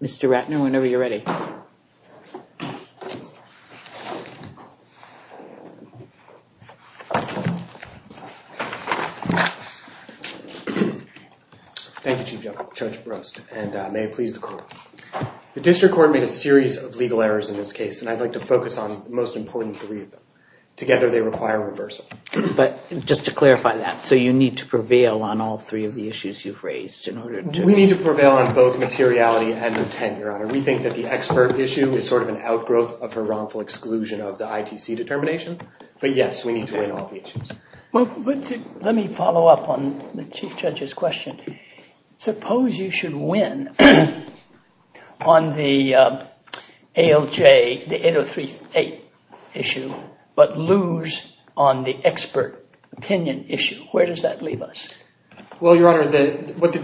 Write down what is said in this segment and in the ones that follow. Mr. Ratner, whenever you're ready. Thank you, Chief Judge. Judge Brost, and may it please the court. The district court made a series of legal errors in this case, and I'd like to focus on the most important three of them. Together, they require reversal. But just to clarify that, so you need to prevail on all three of the issues you've raised in order to- On both materiality and intent, Your Honor. We think that the expert issue is sort of an outgrowth of her wrongful exclusion of the ITC determination. But yes, we need to win all the issues. Well, let me follow up on the Chief Judge's question. Suppose you should win on the ALJ, the 8038 issue, but lose on the expert opinion issue. Where does that leave us? Well, Your Honor, what the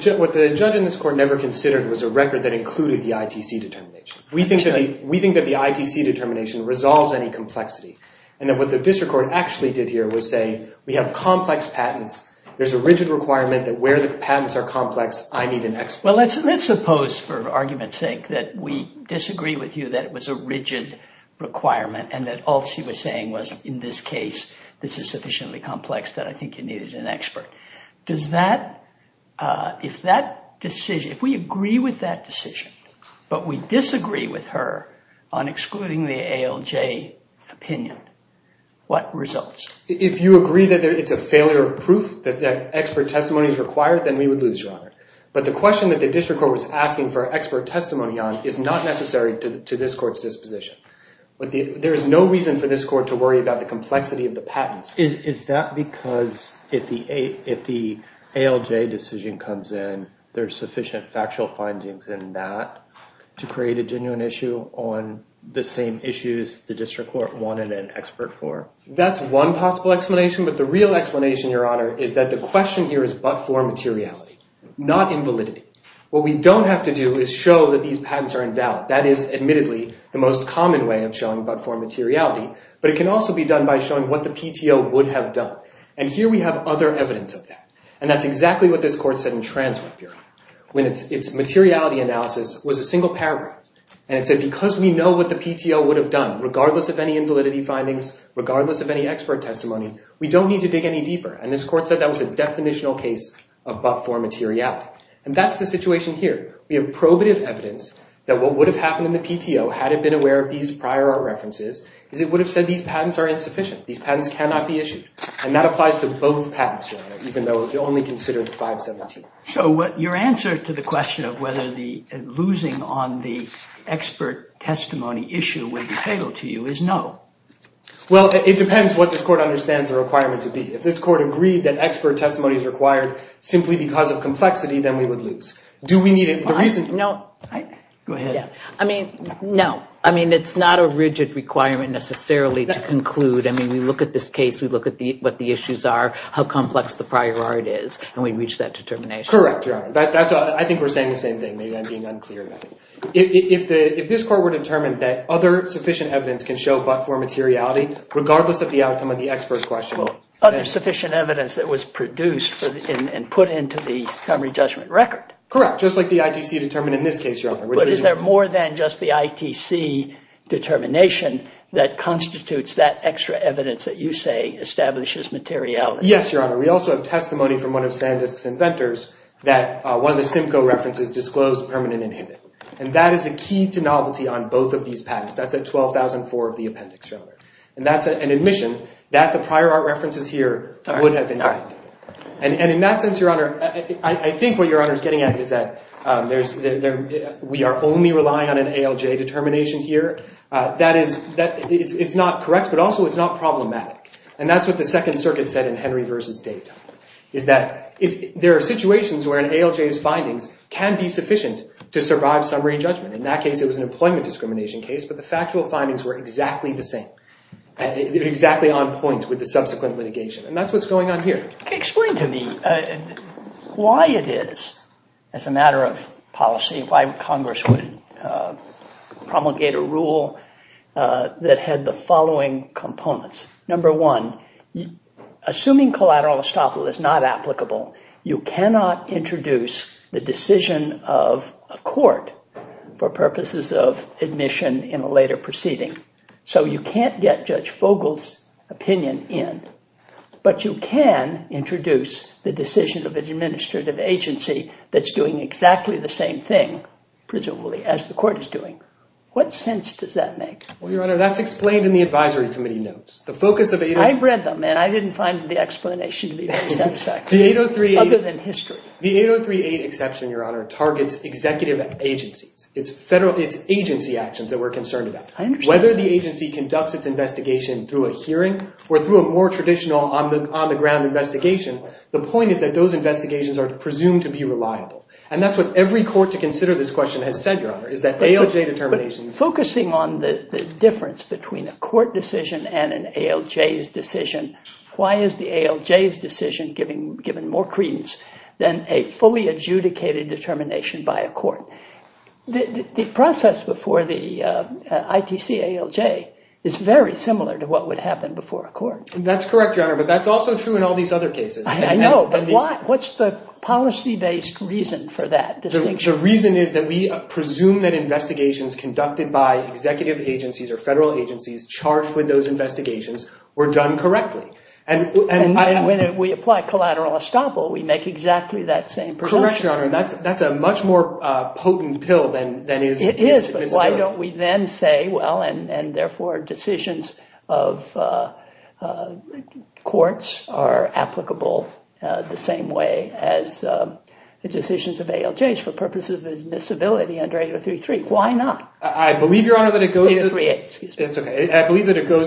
judge in this court never considered was a record that included the ITC determination. We think that the ITC determination resolves any complexity. And that what the district court actually did here was say, we have complex patents. There's a rigid requirement that where the patents are complex, I need an expert. Well, let's suppose for argument's sake that we disagree with you that it was a rigid requirement and that all she was saying was, in this case, this is sufficiently complex that I think you needed an expert. If we agree with that decision, but we disagree with her on excluding the ALJ opinion, what results? If you agree that it's a failure of proof, that expert testimony is required, then we would lose, Your Honor. But the question that the district court was asking for expert testimony on is not necessary to this court's disposition. There is no reason for this court to worry about the complexity of the patents. Is that because if the ALJ decision comes in, there's sufficient factual findings in that to create a genuine issue on the same issues the district court wanted an expert for? That's one possible explanation. But the real explanation, Your Honor, is that the question here is but-for materiality, not invalidity. What we don't have to do is show that these patents are invalid. That is, admittedly, the most common way of showing but-for materiality. But it can also be done by showing what the PTO would have done. And here we have other evidence of that. And that's exactly what this court said in TransRep, Your Honor, when its materiality analysis was a single paragraph. And it said because we know what the PTO would have done, regardless of any invalidity findings, regardless of any expert testimony, we don't need to dig any deeper. And this court said that was a definitional case of but-for materiality. And that's the situation here. We have probative evidence that what would have happened in the PTO, had it been aware of these prior art references, is it would have said these patents are insufficient. These patents cannot be issued. And that applies to both patents, Your Honor, even though it only considered 517. So your answer to the question of whether the losing on the expert testimony issue would be fatal to you is no. Well, it depends what this court understands the requirement to be. If this court agreed that expert testimony is required simply because of complexity, then we would lose. Do we need it? No. I mean, no. I mean, it's not a rigid requirement, necessarily, to conclude. I mean, we look at this case, we look at what the issues are, how complex the prior art is, and we reach that determination. Correct, Your Honor. I think we're saying the same thing. Maybe I'm being unclear. If this court were determined that other sufficient evidence can show but-for materiality, regardless of the outcome of the expert question. Other sufficient evidence that was produced and put into the summary judgment record. Correct. Just like the ITC determined in this case, Your Honor. But is there more than just the ITC determination that constitutes that extra evidence that you say establishes materiality? Yes, Your Honor. We also have testimony from one of Sandisk's inventors that one of the Simcoe references disclosed permanent inhibit. And that is the key to novelty on both of these patents. That's at 12,004 of the appendix, Your Honor. And that's an admission that the prior art references here would have been. And in that sense, Your Honor, I think what we're saying is that there's-we are only relying on an ALJ determination here. That is-it's not correct, but also it's not problematic. And that's what the Second Circuit said in Henry v. Dayton, is that there are situations where an ALJ's findings can be sufficient to survive summary judgment. In that case, it was an employment discrimination case, but the factual findings were exactly the same, exactly on point with the subsequent litigation. And that's what's going on here. Explain to me why it is, as a matter of policy, why Congress would promulgate a rule that had the following components. Number one, assuming collateral estoppel is not applicable, you cannot introduce the decision of a court for purposes of admission in a later proceeding. So you can't get Judge Fogle's opinion in, but you can introduce the decision of an administrative agency that's doing exactly the same thing, presumably, as the court is doing. What sense does that make? Well, Your Honor, that's explained in the advisory committee notes. The focus of 803- I read them, and I didn't find the explanation to be very satisfying. The 803- Other than history. The 803-8 exception, Your Honor, targets executive agencies. It's federal-it's agency actions that we're concerned about. Whether the agency conducts its investigation through a hearing or through a more traditional on-the-ground investigation, the point is that those investigations are presumed to be reliable. And that's what every court to consider this question has said, Your Honor, is that ALJ determination- But focusing on the difference between a court decision and an ALJ's decision, why is the ALJ's decision given more credence than a fully adjudicated determination by a court? The process before the ITC ALJ is very similar to what would happen before a court. That's correct, Your Honor, but that's also true in all these other cases. I know, but what's the policy-based reason for that distinction? The reason is that we presume that investigations conducted by executive agencies or federal agencies charged with those investigations were done correctly. And when we apply collateral estoppel, we make exactly that same prediction. That's a much more potent pill than is- It is, but why don't we then say, well, and therefore decisions of courts are applicable the same way as the decisions of ALJs for purposes of admissibility under 8033. Why not? I believe, Your Honor, that it goes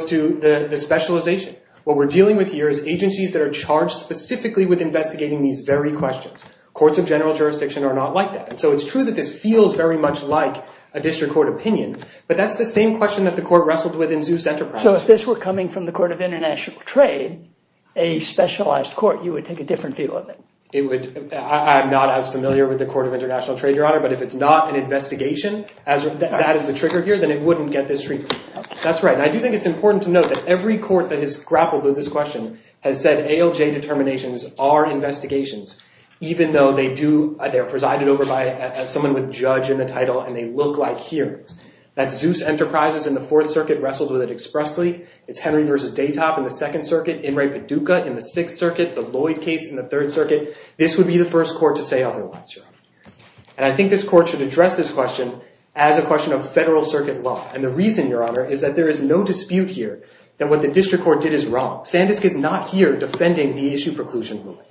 to the specialization. What we're dealing with here is agencies that are charged specifically with investigating these very questions. Courts of general jurisdiction are not like that. So it's true that this feels very much like a district court opinion, but that's the same question that the court wrestled with in Zeus Enterprises. So if this were coming from the Court of International Trade, a specialized court, you would take a different view of it? I'm not as familiar with the Court of International Trade, Your Honor, but if it's not an investigation, that is the trigger here, then it wouldn't get this treatment. That's right, and I do think it's important to note that every court that has grappled with this question has said ALJ determinations are investigations, even though they are presided over by someone with judge in the title and they look like hearings. That Zeus Enterprises in the Fourth Circuit wrestled with it expressly, it's Henry v. Daytop in the Second Circuit, Inmate Paducah in the Sixth Circuit, the Lloyd case in the Third Circuit. This would be the first court to say otherwise, Your Honor, and I think this court should address this question as a question of federal circuit law, and the reason, Your Honor, is that there is no dispute here that what the district court did is wrong. Sandisk is not here defending the issue preclusion ruling.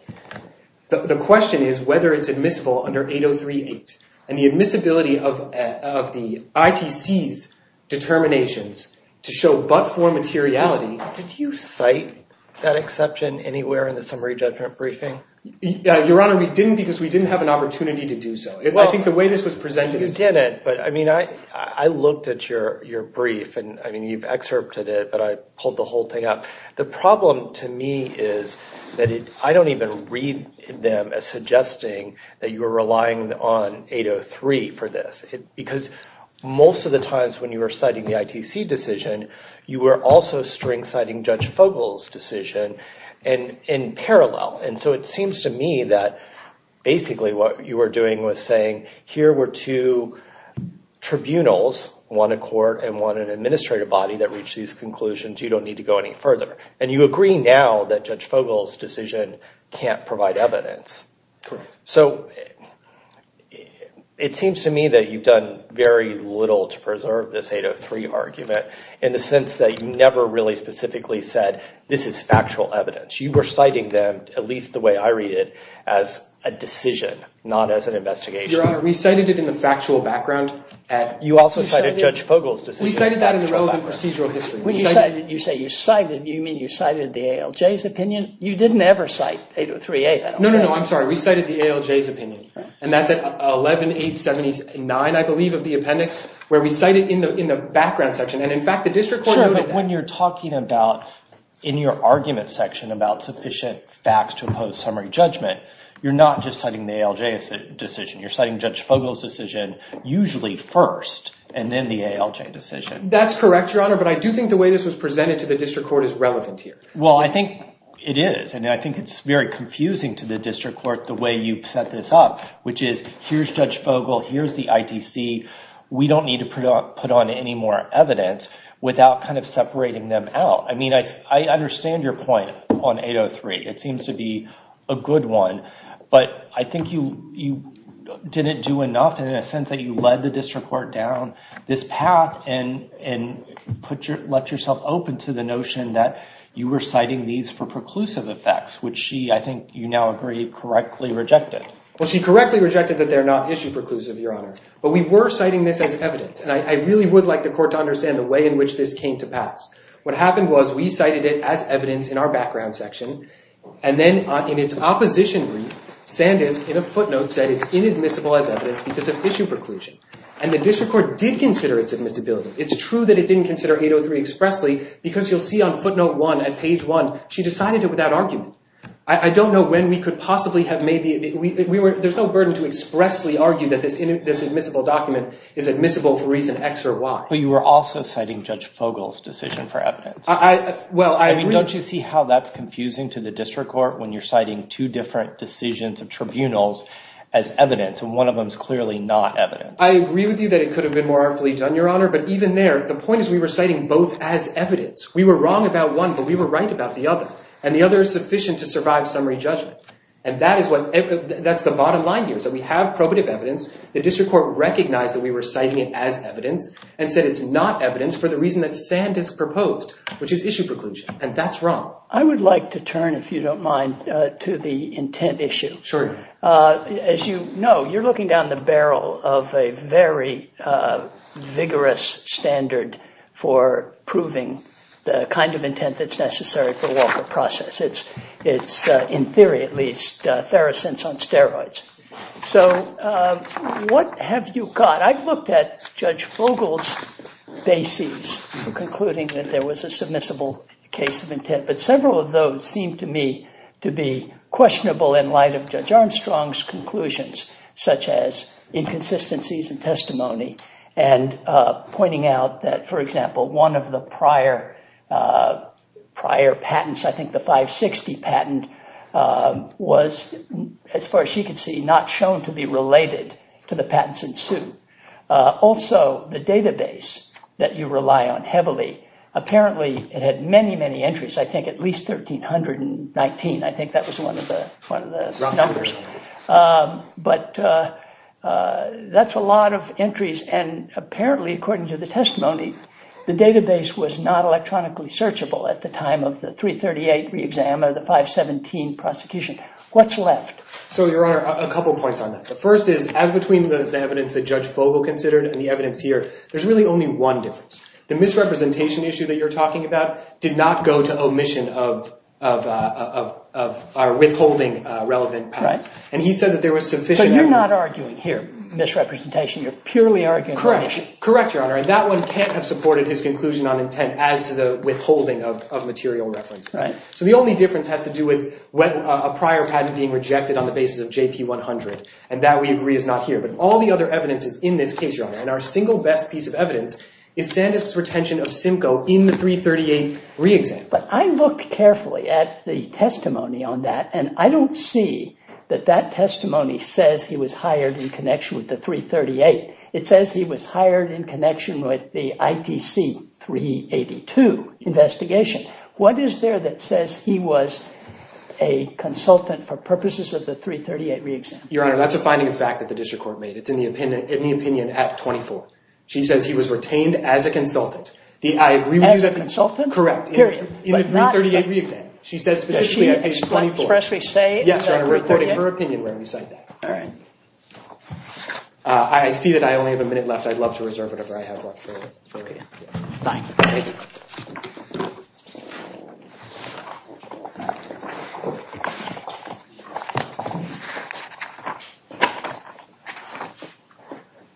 The question is whether it's admissible under 803.8, and the admissibility of the ITC's determinations to show but-for materiality. Did you cite that exception anywhere in the summary judgment briefing? Your Honor, we didn't because we didn't have an opportunity to do so. I think the way this was presented... You didn't, but I mean, I looked at your brief, and I mean, you've excerpted it, but I pulled the whole thing up. The problem to me is that I don't even read them as suggesting that you are relying on 803 for this, because most of the times when you were citing the ITC decision, you were also string-citing Judge Fogle's decision in parallel, and so it seems to me that basically what you were doing was saying here were two tribunals, one a court and one an adjudicator, and if you agree with these conclusions, you don't need to go any further, and you agree now that Judge Fogle's decision can't provide evidence. So it seems to me that you've done very little to preserve this 803 argument in the sense that you never really specifically said, this is factual evidence. You were citing them, at least the way I read it, as a decision, not as an investigation. Your Honor, we cited it in the factual background. You also cited Judge Fogle's decision. We cited that in the relevant procedural history. You say you cited, you mean you cited the ALJ's opinion? You didn't ever cite 803A. No, no, no, I'm sorry. We cited the ALJ's opinion, and that's at 11-879, I believe, of the appendix, where we cite it in the background section, and in fact, the district court noted that. When you're talking about, in your argument section, about sufficient facts to impose summary judgment, you're not just citing the ALJ's decision. You're citing Judge Fogle's decision, usually first, and then the ALJ decision. That's correct, Your Honor, but I do think the way this was presented to the district court is relevant here. Well, I think it is, and I think it's very confusing to the district court, the way you've set this up, which is, here's Judge Fogle, here's the ITC. We don't need to put on any more evidence without kind of separating them out. I understand your point on 803. It seems to be a good one, but I think you didn't do enough in a sense that you led the district court down this path and let yourself open to the notion that you were citing these for preclusive effects, which she, I think you now agree, correctly rejected. Well, she correctly rejected that they're not issue-preclusive, Your Honor, but we were citing this as evidence, and I really would like the court to understand the way in which this came to pass. What happened was we cited it as evidence in our background section, and then in its opposition brief, Sandisk, in a footnote, said it's inadmissible as evidence because of issue preclusion, and the district court did consider its admissibility. It's true that it didn't consider 803 expressly, because you'll see on footnote one at page one, she decided it without argument. I don't know when we could possibly have made the... There's no burden to expressly argue that this admissible document is admissible for reason X or Y. You were also citing Judge Fogle's decision for evidence. Well, I agree. Don't you see how that's confusing to the district court when you're citing two different decisions of tribunals as evidence, and one of them's clearly not evidence? I agree with you that it could have been more artfully done, Your Honor, but even there, the point is we were citing both as evidence. We were wrong about one, but we were right about the other, and the other is sufficient to survive summary judgment, and that's the bottom line here, is that we have probative evidence. The district court recognized that we were citing it as evidence and said it's not evidence for the reason that Sandisk proposed, which is issue preclusion, and that's wrong. I would like to turn, if you don't mind, to the intent issue. Sure. As you know, you're looking down the barrel of a very vigorous standard for proving the kind of intent that's necessary for Walker process. It's, in theory at least, theracents on Judge Fogle's bases for concluding that there was a submissible case of intent, but several of those seem to me to be questionable in light of Judge Armstrong's conclusions, such as inconsistencies in testimony and pointing out that, for example, one of the prior patents, I think the 560 patent, was, as far as she could see, not shown to be related to the patents in suit. Also, the database that you rely on heavily, apparently it had many, many entries, I think at least 1,319. I think that was one of the numbers. But that's a lot of entries, and apparently, according to the testimony, the database was not electronically searchable at the time of the 338 re-exam or the 517 prosecution. What's left? So, Your Honor, a couple of points on that. The first is, as between the evidence that Judge Fogle considered and the evidence here, there's really only one difference. The misrepresentation issue that you're talking about did not go to omission of our withholding relevant patents. And he said that there was sufficient evidence. But you're not arguing here misrepresentation. You're purely arguing omission. Correct. Correct, Your Honor. And that one can't have supported his conclusion on intent as to the withholding of material references. So the only difference has to do with a prior patent being rejected on the basis of JP100. And that, we agree, is not here. But all the other evidence is in this case, Your Honor. And our single best piece of evidence is Sandisk's retention of Simcoe in the 338 re-exam. But I looked carefully at the testimony on that, and I don't see that that testimony says he was hired in connection with the 338. It says he was hired in connection with the ITC 382 investigation. What is there that says he was a consultant for purposes of the 338 re-exam? Your Honor, that's a finding of fact that the district court made. It's in the opinion at 24. She says he was retained as a consultant. As a consultant? Correct. Period. In the 338 re-exam. She says specifically at page 24. Can you expressly say that? Yes, Your Honor. I'm recording her opinion when we cite that. All right. I see that I only have a minute left. I'd love to reserve whatever I have left for you. Thank you.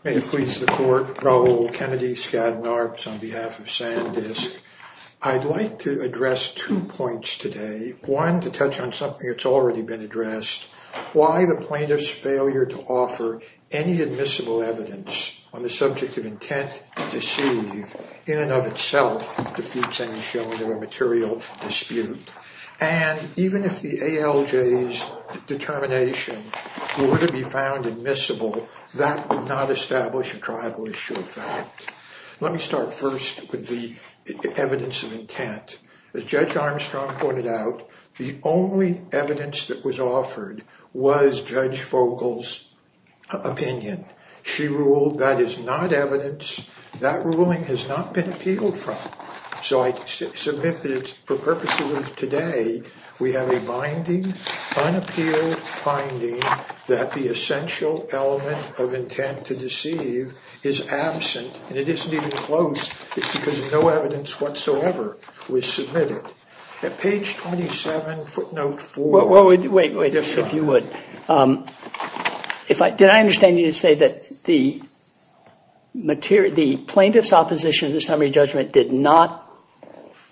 May it please the court. Raoul Kennedy, Skadden Arps on behalf of Sandisk. I'd like to address two points today. One, to touch on something that's already been addressed. Why the plaintiff's failure to offer any admissible evidence on the subject of intent to deceive in and of itself defeats any showing of a material dispute. And even if the ALJ's determination were to be found admissible, that would not establish a tribal issue of fact. Let me start first with the evidence of intent. As Judge Armstrong pointed out, the only evidence that was offered was Judge Fogel's opinion. She ruled that is not evidence. That ruling has not been appealed from. So, I submit that for purposes of today, we have a binding, unappealed finding that the essential element of intent to deceive is absent. And it isn't even close because no evidence whatsoever was submitted. At page 27, footnote four. Wait, wait, if you would. Did I understand you to say that the plaintiff's opposition to the summary judgment did not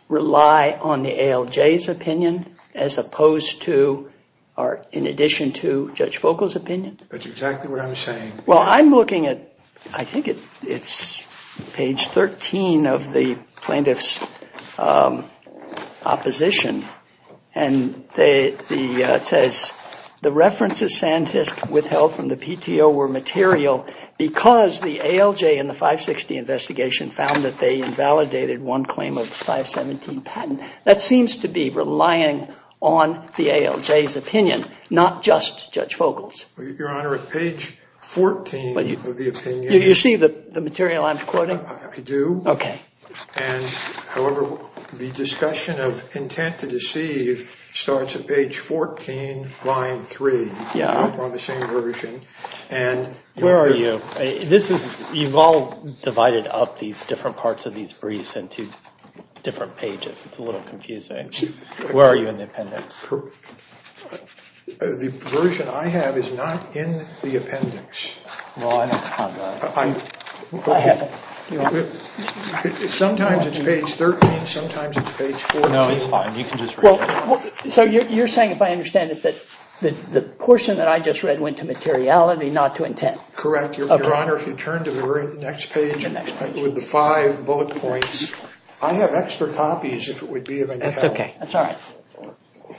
rely on the ALJ's opinion as opposed to, or in addition to, Judge Fogel's opinion? That's exactly what I'm saying. Well, I'm looking at, I think it's page 13 of the plaintiff's opposition, and it says, the references Sandfisk withheld from the PTO were material because the ALJ in the 560 investigation found that they invalidated one claim of the 517 patent. That seems to be relying on the ALJ's opinion, not just Judge Fogel's. Your Honor, at page 14 of the discussion of intent to deceive starts at page 14, line three. Yeah. On the same version. And where are you? This is, you've all divided up these different parts of these briefs into different pages. It's a little confusing. Where are you in the appendix? The version I have is not in the appendix. Well, I haven't found that. I haven't. Sometimes it's page 13, sometimes it's page 14. No, it's fine. You can just read it. So you're saying, if I understand it, that the portion that I just read went to materiality, not to intent? Correct. Your Honor, if you turn to the next page with the five bullet points, I have extra copies if it would be of any help. That's okay. That's all right.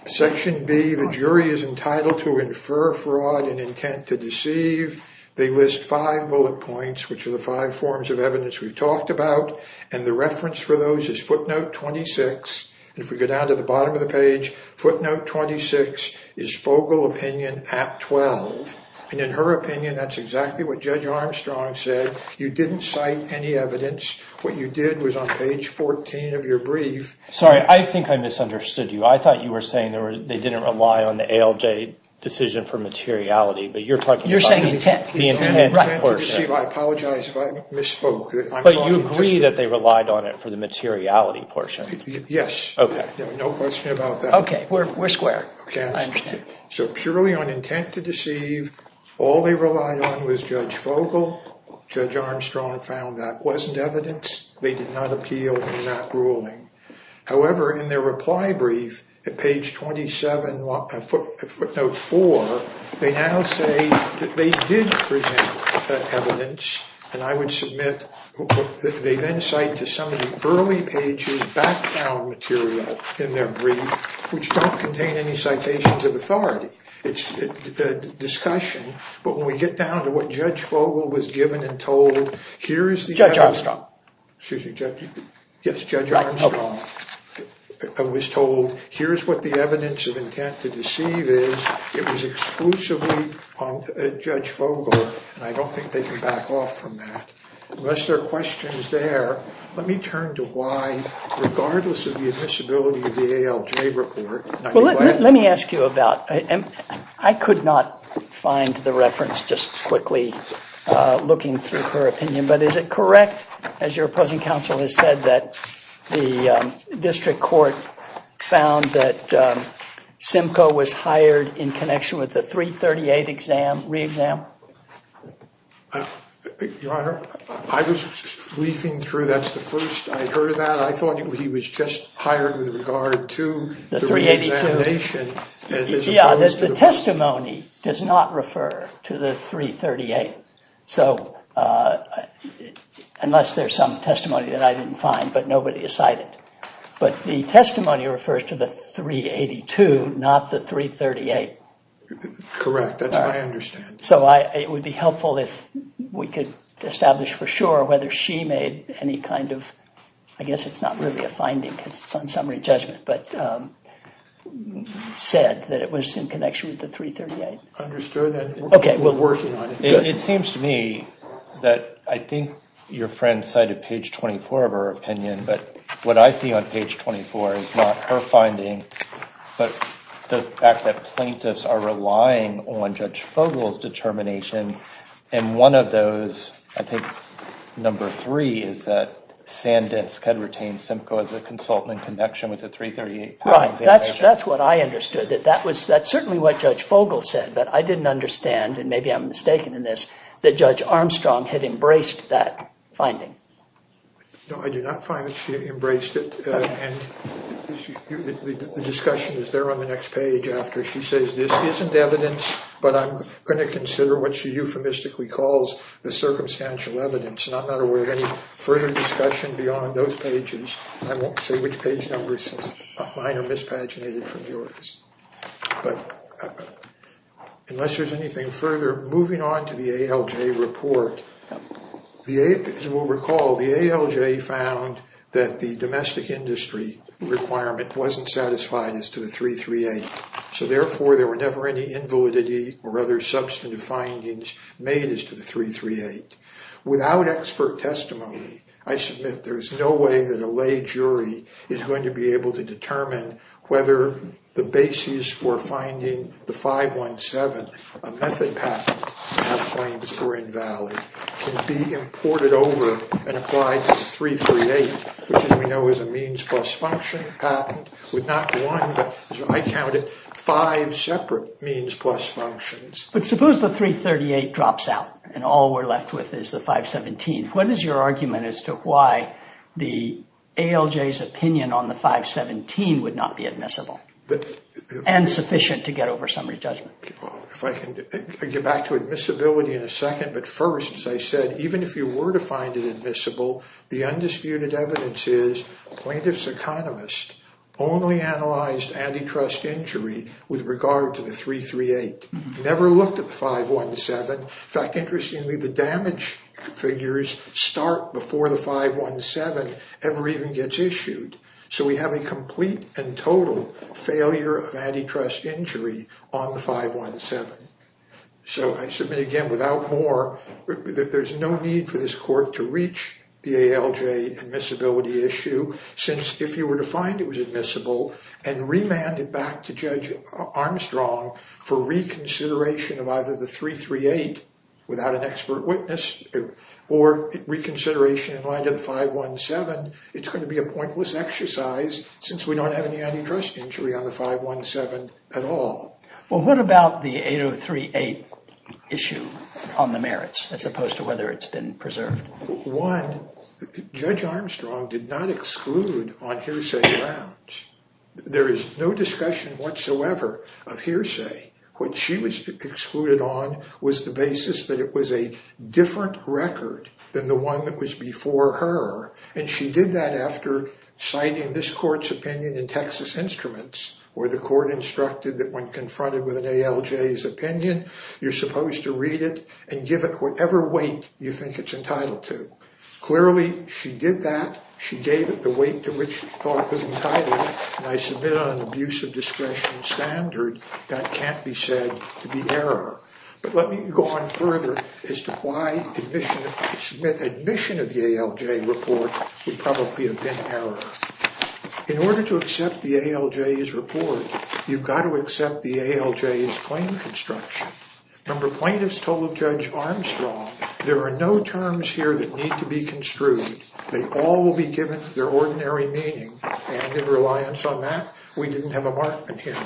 Section B, the jury is entitled to infer fraud and intent to deceive. They list five bullet points, which are the five forms of evidence we've talked about. And the reference for those is footnote 26. And if we go down to the bottom of the page, footnote 26 is Fogel opinion at 12. And in her opinion, that's exactly what Judge Armstrong said. You didn't cite any evidence. What you did was on page 14 of your brief... Sorry, I think I misunderstood you. I thought you were saying they didn't rely on the ALJ decision for materiality, but you're talking about... You're saying intent. The intent portion. I apologize if I misspoke. But you agree that they relied on it for the materiality portion? Yes. Okay. No question about that. Okay. We're square. I understand. So purely on intent to deceive, all they relied on was Judge Fogel. Judge Armstrong found that wasn't evidence. They did not appeal in that ruling. However, in their reply brief at page 27, footnote 4, they now say that they did present evidence. And I would submit that they then cite to some of the early pages background material in their brief, which don't contain any citations of authority. It's a discussion. But when we get down to what Judge Fogel was given and told, here is the... Judge Armstrong. Excuse me. Yes, Judge Armstrong was told, here's what the evidence of intent to deceive is. It was exclusively on Judge Fogel. And I don't think they can back off from that. Unless there are questions there, let me turn to why, regardless of the admissibility of the ALJ report. Let me ask you about... I could not find the reference, just quickly looking through her opinion. But is it correct, as your opposing counsel has said, that the district court found that Simcoe was hired in connection with the 338 re-exam? Your Honor, I was leafing through. That's the first I heard of that. I thought he was just hired with regard to the re-examination, as opposed to... Yeah, the testimony does not refer to the 338. So, unless there's some testimony that I didn't find, but nobody has cited. But the testimony refers to the 382, not the 338. Correct. That's what I understand. So it would be helpful if we could establish for sure whether she made any kind of... but said that it was in connection with the 338. Understood that we're working on it. It seems to me that I think your friend cited page 24 of her opinion. But what I see on page 24 is not her finding, but the fact that plaintiffs are relying on Judge Fogel's determination. And one of those, I think number three, is that Sandisk had retained Simcoe as a consultant in connection with the 338. Right. That's what I understood. That's certainly what Judge Fogel said. But I didn't understand, and maybe I'm mistaken in this, that Judge Armstrong had embraced that finding. No, I did not find that she embraced it. And the discussion is there on the next page after she says, this isn't evidence, but I'm going to consider what she euphemistically calls the circumstantial evidence. And I'm not aware of any further discussion beyond those pages. I won't say which page number, since mine are mispaginated from yours. But unless there's anything further, moving on to the ALJ report. As you will recall, the ALJ found that the domestic industry requirement wasn't satisfied as to the 338. So therefore, there were never any invalidity or other substantive findings made as to the 338. Without expert testimony, I submit there is no way that a lay jury is going to be able to determine whether the basis for finding the 517, a method patent, have claims for invalid, can be imported over and applied to the 338, which as we know is a means plus function patent, with not one, but as I counted, five separate means plus functions. But suppose the 338 drops out and all we're left with is the 517. What is your argument as to why the ALJ's opinion on the 517 would not be admissible and sufficient to get over summary judgment? If I can get back to admissibility in a second. But first, as I said, even if you were to find it admissible, the undisputed evidence is plaintiff's economist only analyzed antitrust injury with regard to the 338. Never looked at the 517. In fact, interestingly, the damage figures start before the 517 ever even gets issued. So we have a complete and total failure of antitrust injury on the 517. So I submit again, without more, there's no need for this court to reach the ALJ admissibility issue, since if you were to find it was admissible and remand it back to Judge Armstrong for reconsideration of either the 338 without an expert witness or reconsideration in line to the 517, it's going to be a pointless exercise since we don't have any antitrust injury on the 517 at all. Well, what about the 8038 issue on the merits as opposed to whether it's been of hearsay? What she was excluded on was the basis that it was a different record than the one that was before her. And she did that after citing this court's opinion in Texas Instruments, where the court instructed that when confronted with an ALJ's opinion, you're supposed to read it and give it whatever weight you think it's entitled to. Clearly, she did that. She gave it the weight to which she thought it was entitled. And I submit on an abuse of discretion standard, that can't be said to be error. But let me go on further as to why admission of the ALJ report would probably have been error. In order to accept the ALJ's report, you've got to accept the ALJ's claim construction. Remember, plaintiffs told Judge Armstrong, there are no terms here that need to be construed. They all will be given their ordinary meaning. And in reliance on that, we didn't have a markman hearing.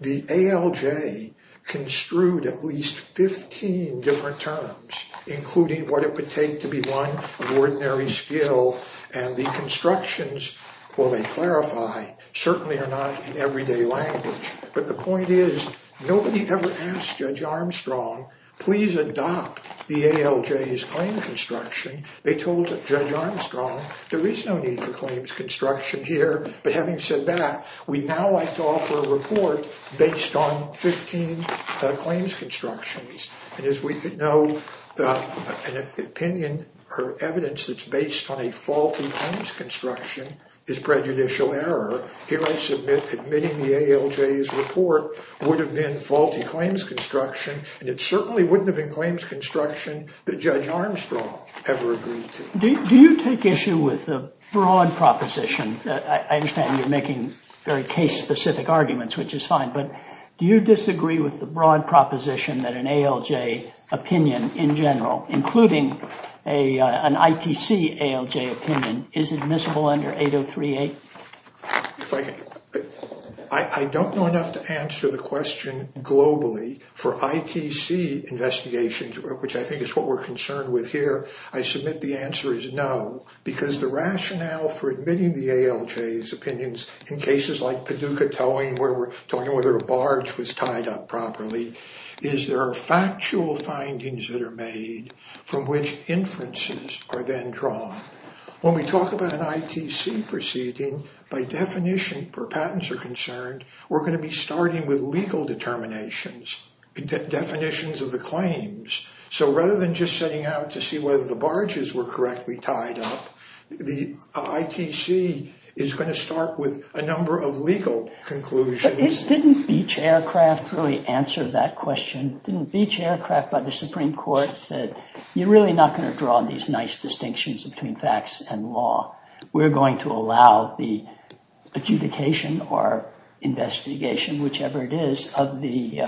The ALJ construed at least 15 different terms, including what it would take to be one of ordinary skill. And the constructions, while they clarify, certainly are not in everyday language. But the point is, nobody ever asked Judge Armstrong, please adopt the ALJ's claim construction. They told Judge Armstrong, there is no need for claims construction here. But having said that, we now like to offer a report based on 15 claims constructions. And as we know, an opinion or evidence that's based on a faulty claims construction is prejudicial error. Here, I submit admitting the ALJ's report would have been faulty claims construction. And it certainly wouldn't have been claims construction that Judge Armstrong ever agreed to. Do you take issue with the broad proposition? I understand you're making very case-specific arguments, which is fine. But do you disagree with the broad proposition that an ALJ opinion in general, including an ITC ALJ opinion, is admissible under 8038? I don't know enough to answer the question globally for ITC investigations, which I think is what we're concerned with here. I submit the answer is no, because the rationale for admitting the ALJ's opinions in cases like Paducah towing, where we're talking whether a barge was tied up properly, is there are factual findings that are made from which inferences are then drawn. When we talk about an ITC proceeding, by definition, per patents are concerned, we're going to be starting with legal determinations, definitions of the claims. So rather than just setting out to see whether the barges were correctly tied up, the ITC is going to start with a number of legal conclusions. Didn't Beach Aircraft really answer that question? Didn't Beach Aircraft, by the Supreme Court, said, you're really not going to draw these nice distinctions between facts and law. We're going to allow the adjudication or investigation, whichever it is, of the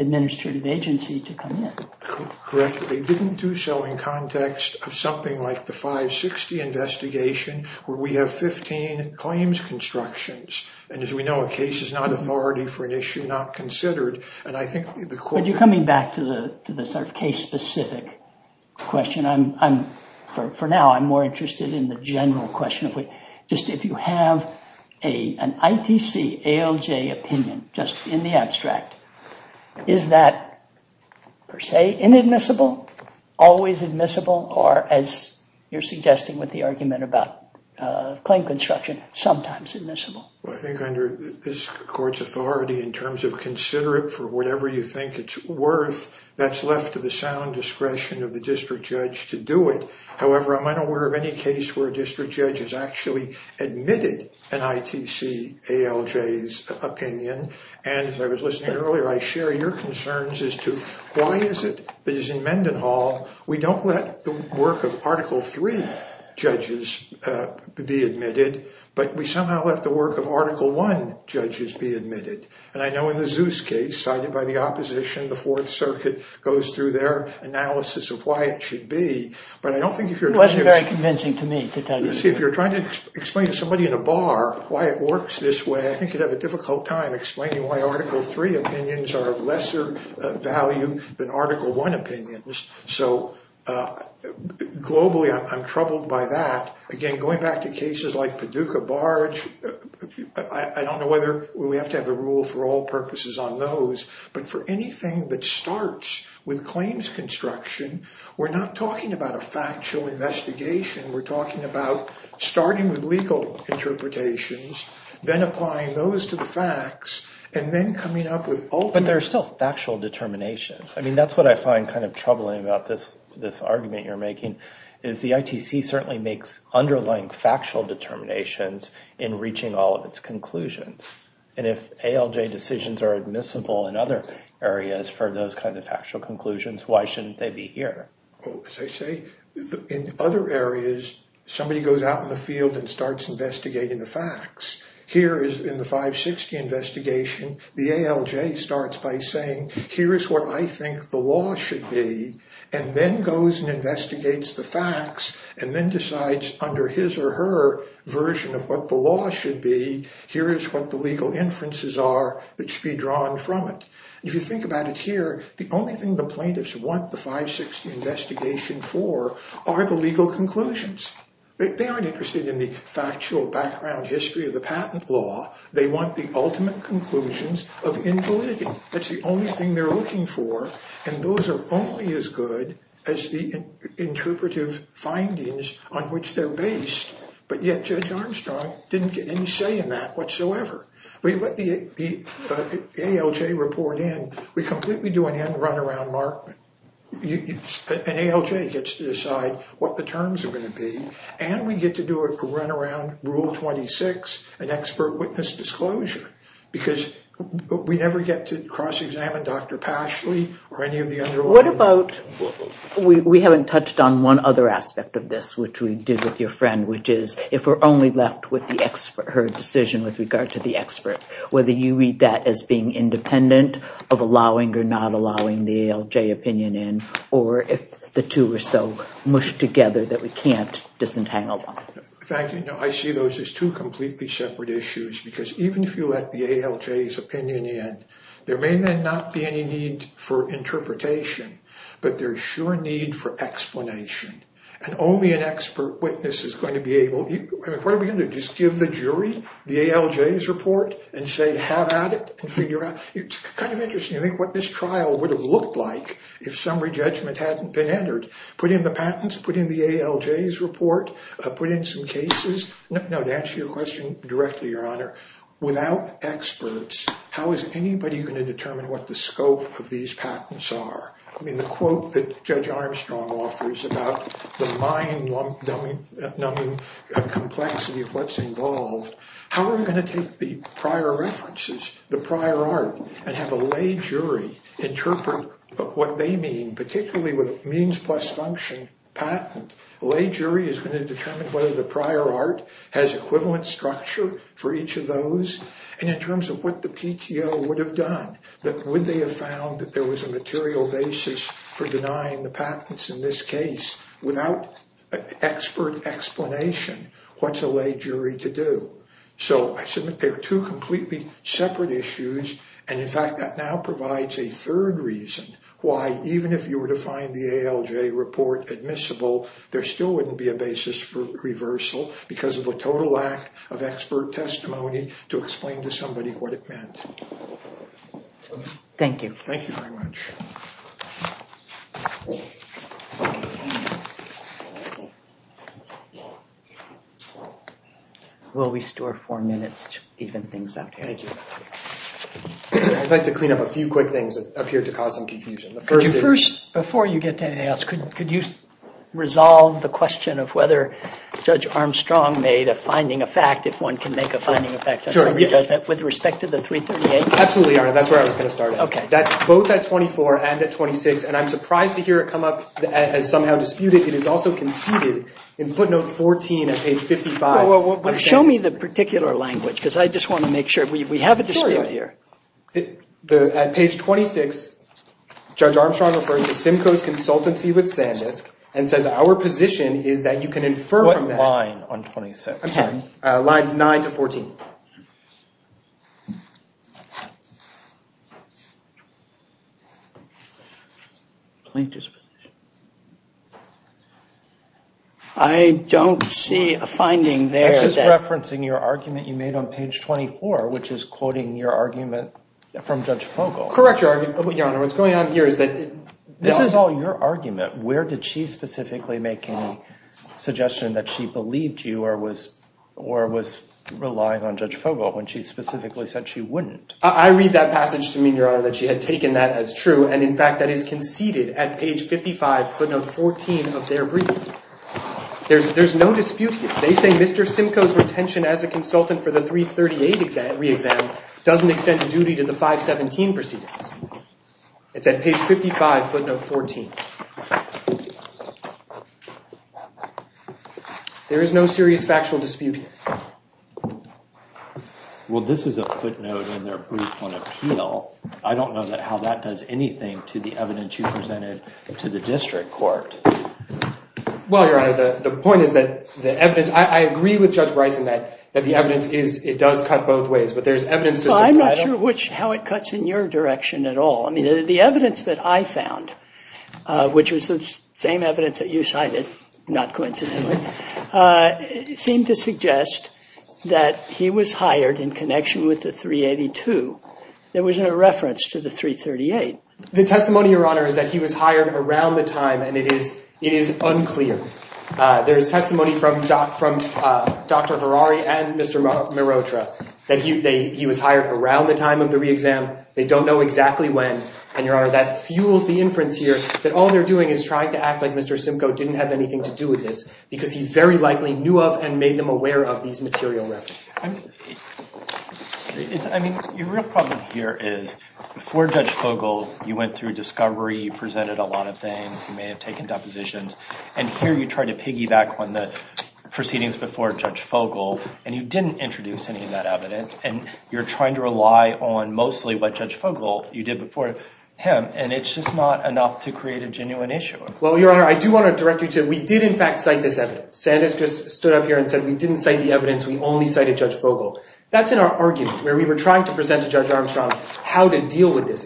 administrative agency to come in. Correct. They didn't do so in context of something like the 560 investigation, where we have 15 claims constructions. And as we know, a case is not authority for an issue not considered. But you're coming back to the sort of case specific question. For now, I'm more interested in the general question. Just if you have an ITC, ALJ opinion, just in the abstract, is that per se inadmissible, always admissible, or as you're suggesting with the argument about claim construction, sometimes admissible? Well, I think under this court's authority, in terms of consider it for whatever you think it's worth, that's left to the sound discretion of the district judge to do it. However, I'm unaware of any case where a district judge has actually admitted an ITC, ALJ's opinion. And if I was listening earlier, I share your concerns as to why is it that is in Mendenhall, we don't let the work of Article III judges be admitted, but we somehow let the work of Article I judges be admitted. And I know in the Zeus case cited by the opposition, the Fourth Circuit goes through their analysis of why it should be. But I don't think if you're trying to explain to somebody in a bar why it works this way, I think you'd have a difficult time explaining why Article III opinions are of lesser value than Article I opinions. So globally, I'm troubled by that. Again, going back to cases like Paducah Barge, I don't know whether we have to have a rule for all purposes on those, but for anything that starts with claims construction, we're not talking about a factual investigation. We're talking about starting with legal interpretations, then applying those to the facts, and then coming up with ultimate... But there are still factual determinations. I mean, that's what I find kind of troubling about this argument you're making, is the ITC certainly makes underlying factual determinations in reaching all of its conclusions. And if ALJ decisions are admissible in other areas for those kinds of factual conclusions, why shouldn't they be here? Well, as I say, in other areas, somebody goes out in the field and starts investigating the facts. Here in the 560 investigation, the ALJ starts by saying, here is what I think the law should be, and then goes and investigates the facts, and then decides under his or her version of what the law should be, here is what the legal inferences are that should be drawn from it. If you think about it here, the only thing the plaintiffs want the 560 investigation for are the legal conclusions. They aren't interested in the factual background history of the patent law. They want the ultimate conclusions of invalidity. That's the only thing they're looking for. And those are only as good as the interpretive findings on which they're based. But yet, Judge Armstrong didn't get any say in that whatsoever. We let the ALJ report in, we completely do an end-run around Markman. And ALJ gets to decide what the terms are going to be. And we get to do a run around Rule 26, an expert witness disclosure. Because we never get to cross-examine Dr. Pashley or any of the underlying... We haven't touched on one other aspect of this, which we did with your friend, which is, if we're only left with her decision with regard to the expert, whether you read that as being independent of allowing or not allowing the ALJ opinion in, or if the two are so mushed together. I see those as two completely separate issues. Because even if you let the ALJ's opinion in, there may not be any need for interpretation, but there's sure need for explanation. And only an expert witness is going to be able... What are we going to do? Just give the jury the ALJ's report and say, have at it and figure out. It's kind of interesting to think what this trial would have looked like if summary judgment hadn't been entered. Put in the patents, put in the ALJ's report, put in some cases. Now, to answer your question directly, Your Honor, without experts, how is anybody going to determine what the scope of these patents are? I mean, the quote that Judge Armstrong offers about the mind-numbing complexity of what's involved. How are we going to take the prior references, the prior art, and have a lay jury interpret what they mean, particularly with a means plus function patent. Lay jury is going to determine whether the prior art has equivalent structure for each of those. And in terms of what the PTO would have done, would they have found that there was a material basis for denying the patents in this case without expert explanation? What's a lay jury to do? So I submit they're two completely separate issues. And in fact, that now provides a third reason why even if you were to find the ALJ report admissible, there still wouldn't be a basis for reversal because of a total lack of expert testimony to explain to somebody what it meant. Thank you. Thank you very much. Will we store four minutes to even things out here? Thank you. I'd like to clean up a few quick things that appear to cause some confusion. Before you get to anything else, could you resolve the question of whether Judge Armstrong made a finding of fact, if one can make a finding of fact on summary judgment with respect to the 338? Absolutely, Your Honor. That's where I was and I'm surprised to hear it come up as somehow disputed. It is also conceded in footnote 14 at page 55. Well, show me the particular language because I just want to make sure we have a dispute here. At page 26, Judge Armstrong refers to Simcoe's consultancy with Sandisk and says, our position is that you can infer from that. What line on 26? I'm sorry. Lines 9 to 14. I don't see a finding there. I'm just referencing your argument you made on page 24, which is quoting your argument from Judge Fogle. Correct your argument, Your Honor. What's going on here is that... This is all your argument. Where did she specifically make any suggestion that she believed you or was relying on Judge Fogle when she specifically said she wouldn't? I read that passage to mean, Your Honor, that she had taken that as true. And in fact, that is conceded at page 55, footnote 14 of their brief. There's no dispute here. They say Mr. Simcoe's retention as a consultant for the 338 re-exam doesn't extend the duty to the 517 proceedings. It's at page 55, footnote 14. There is no serious factual dispute here. Well, this is a footnote in their brief on appeal. I don't know how that does anything to the evidence you presented to the district court. Well, Your Honor, the point is that the evidence... I agree with Judge Bryson that the evidence is... It does cut both ways, but there's evidence... Well, I'm not sure how it cuts in your direction at all. I mean, the evidence that I found, which was the same evidence that you cited, not coincidentally, seemed to suggest that he was hired in connection with the 382 that was in a reference to the 338. The testimony, Your Honor, is that he was hired around the time and it is unclear. There's testimony from Dr. Harari and Mr. Marotra that he was hired around the time of the re-exam. They don't know exactly when. And, Your Honor, that fuels the inference here that all they're doing is trying to act like Mr. Simcoe didn't have anything to do with this because he very likely knew of and made them aware of these material references. I mean, the real problem here is before Judge Fogel, you went through discovery, you presented a lot of things, you may have taken depositions, and here you try to piggyback on the proceedings before Judge Fogel and you didn't introduce any of that evidence and you're trying to rely on mostly what Judge Fogel, you did before him, and it's just not enough to create a genuine issue. Well, Your Honor, I do want to direct you to... We did, in fact, cite this evidence. Sanders just stood up here and said, we didn't cite the evidence, we only cited Judge Fogel. That's in our argument where we were trying to present to Judge Armstrong how to deal with this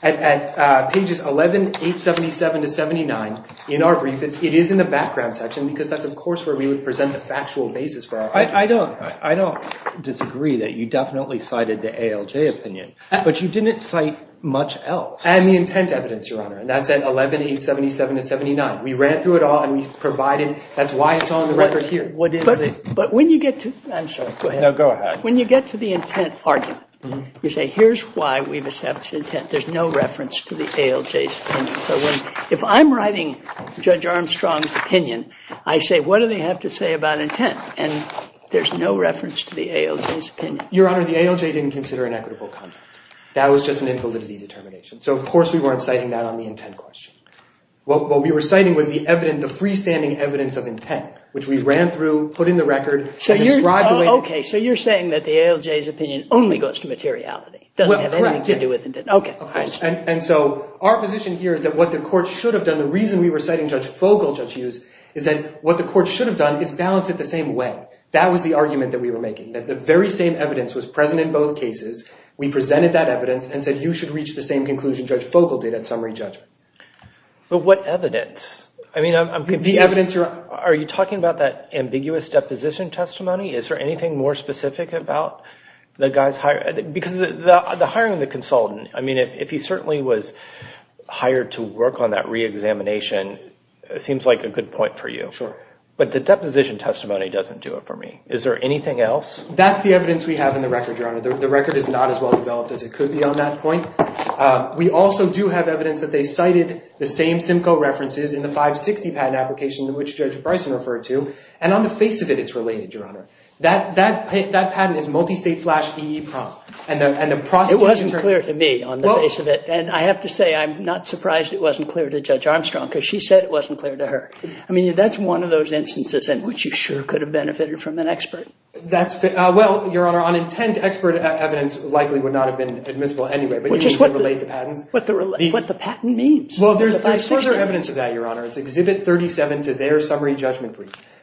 79. In our brief, it is in the background section because that's, of course, where we would present the factual basis for our argument. I don't disagree that you definitely cited the ALJ opinion, but you didn't cite much else. And the intent evidence, Your Honor, and that's at 11-877-79. We ran through it all and we provided... That's why it's on the record here. But when you get to... I'm sorry, go ahead. No, go ahead. When you get to the intent argument, you say, here's why we've established intent. There's no reference to the ALJ's opinion. So if I'm writing Judge Armstrong's opinion, I say, what do they have to say about intent? And there's no reference to the ALJ's opinion. Your Honor, the ALJ didn't consider an equitable conduct. That was just an invalidity determination. So, of course, we weren't citing that on the intent question. What we were citing was the evidence, the freestanding evidence of intent, which we ran through, put in the record... Okay, so you're saying that the ALJ's opinion only goes to materiality, doesn't have anything to do with intent. Okay. And so our position here is that what the court should have done, the reason we were citing Judge Fogle, Judge Hughes, is that what the court should have done is balance it the same way. That was the argument that we were making, that the very same evidence was present in both cases. We presented that evidence and said, you should reach the same conclusion Judge Fogle did at summary judgment. But what evidence? I mean, I'm confused. Are you talking about that ambiguous deposition testimony? Is there anything more specific about the guy's... Because the hiring of the consultant, I mean, if he certainly was hired to work on that re-examination, it seems like a good point for you. Sure. But the deposition testimony doesn't do it for me. Is there anything else? That's the evidence we have in the record, Your Honor. The record is not as well developed as it could be on that point. We also do have evidence that they cited the same Simcoe references in the 560 patent application, which Judge Bryson referred to. And on the face of it, it's related, Your Honor. That patent is multi-state flash EEPROM. And the prosecution... It wasn't clear to me on the face of it. And I have to say, I'm not surprised it wasn't clear to Judge Armstrong, because she said it wasn't clear to her. I mean, that's one of those instances in which you sure could have benefited from an expert. That's... Well, Your Honor, on intent, expert evidence likely would not have been admissible anyway. But you can still relate the patents. What the patent means. Well, there's further evidence of that, Your Honor. It's Exhibit 37 to their summary judgment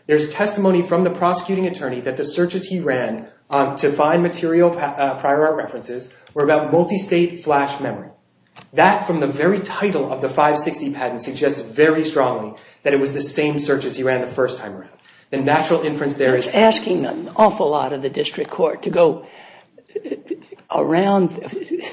There's testimony from the prosecuting attorney that the searches he ran to find material prior art references were about multi-state flash memory. That from the very title of the 560 patent suggests very strongly that it was the same searches he ran the first time around. The natural inference there is... Asking an awful lot of the district court to go around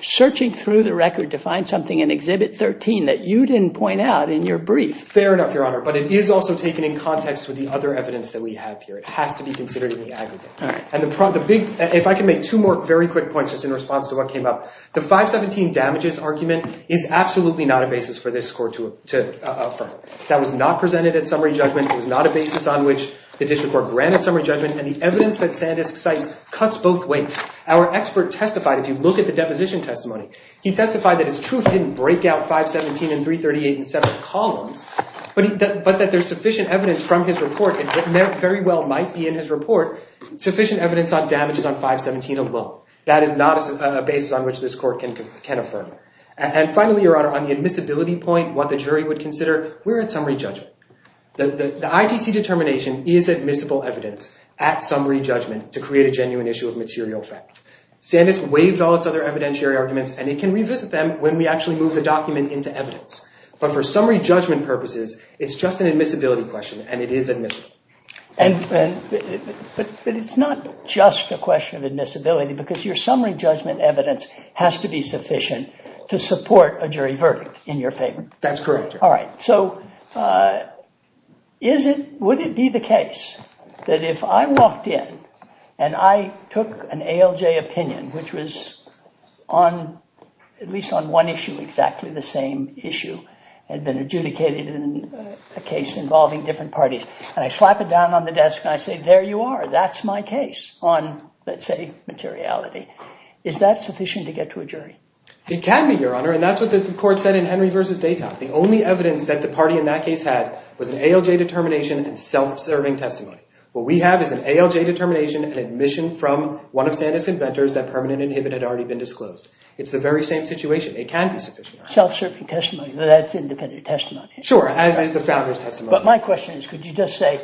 searching through the record to find something in Exhibit 13 that you didn't point out in your brief. Fair enough, Your Honor. But it is also taken in context with the other evidence that we have here. It has to be considered in the aggregate. All right. And the big... If I can make two more very quick points just in response to what came up. The 517 damages argument is absolutely not a basis for this court to affirm. That was not presented at summary judgment. It was not a basis on which the district court granted summary judgment. And the evidence that Sandisk cites cuts both ways. Our expert testified, if you look at the deposition testimony, he testified that it's true he didn't break out 517 and 338 in seven columns, but that there's sufficient evidence from his report, and it very well might be in his report, sufficient evidence on damages on 517 alone. That is not a basis on which this court can affirm. And finally, Your Honor, on the admissibility point, what the jury would consider, we're at summary judgment. The ITC determination is admissible evidence at summary judgment to create a genuine issue of material fact. Sandisk waived all its other evidentiary arguments, and it can revisit them when we actually move the document into evidence. But for summary judgment purposes, it's just an admissibility question, and it is admissible. But it's not just a question of admissibility because your summary judgment evidence has to be sufficient to support a jury verdict in your favor. That's correct, Your Honor. So would it be the case that if I walked in and I took an ALJ opinion, which was at least on one issue exactly the same issue, had been adjudicated in a case involving different parties, and I slap it down on the desk and I say, there you are, that's my case on, let's say, materiality. Is that sufficient to get to a jury? It can be, Your Honor, and that's what the court said in Henry v. Dayton. The only evidence that the party in that case had was an ALJ determination and self-serving testimony. What we have is an ALJ determination and admission from one of Sandisk's inventors that permanent inhibit had already been disclosed. It's the very same situation. It can be sufficient. Self-serving testimony, that's independent testimony. Sure, as is the founder's testimony. But my question is, could you just say,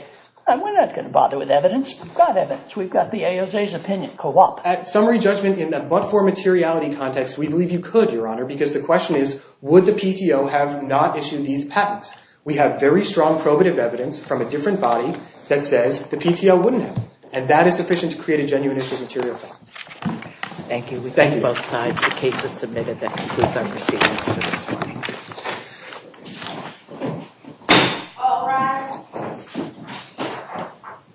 we're not going to bother with evidence. We've got evidence. We've got the ALJ's opinion. Co-op. Because the question is, would the PTO have not issued these patents? We have very strong probative evidence from a different body that says the PTO wouldn't have, and that is sufficient to create a genuine issue of material fact. Thank you. We thank you both sides. The case is submitted. That concludes our proceedings for this morning.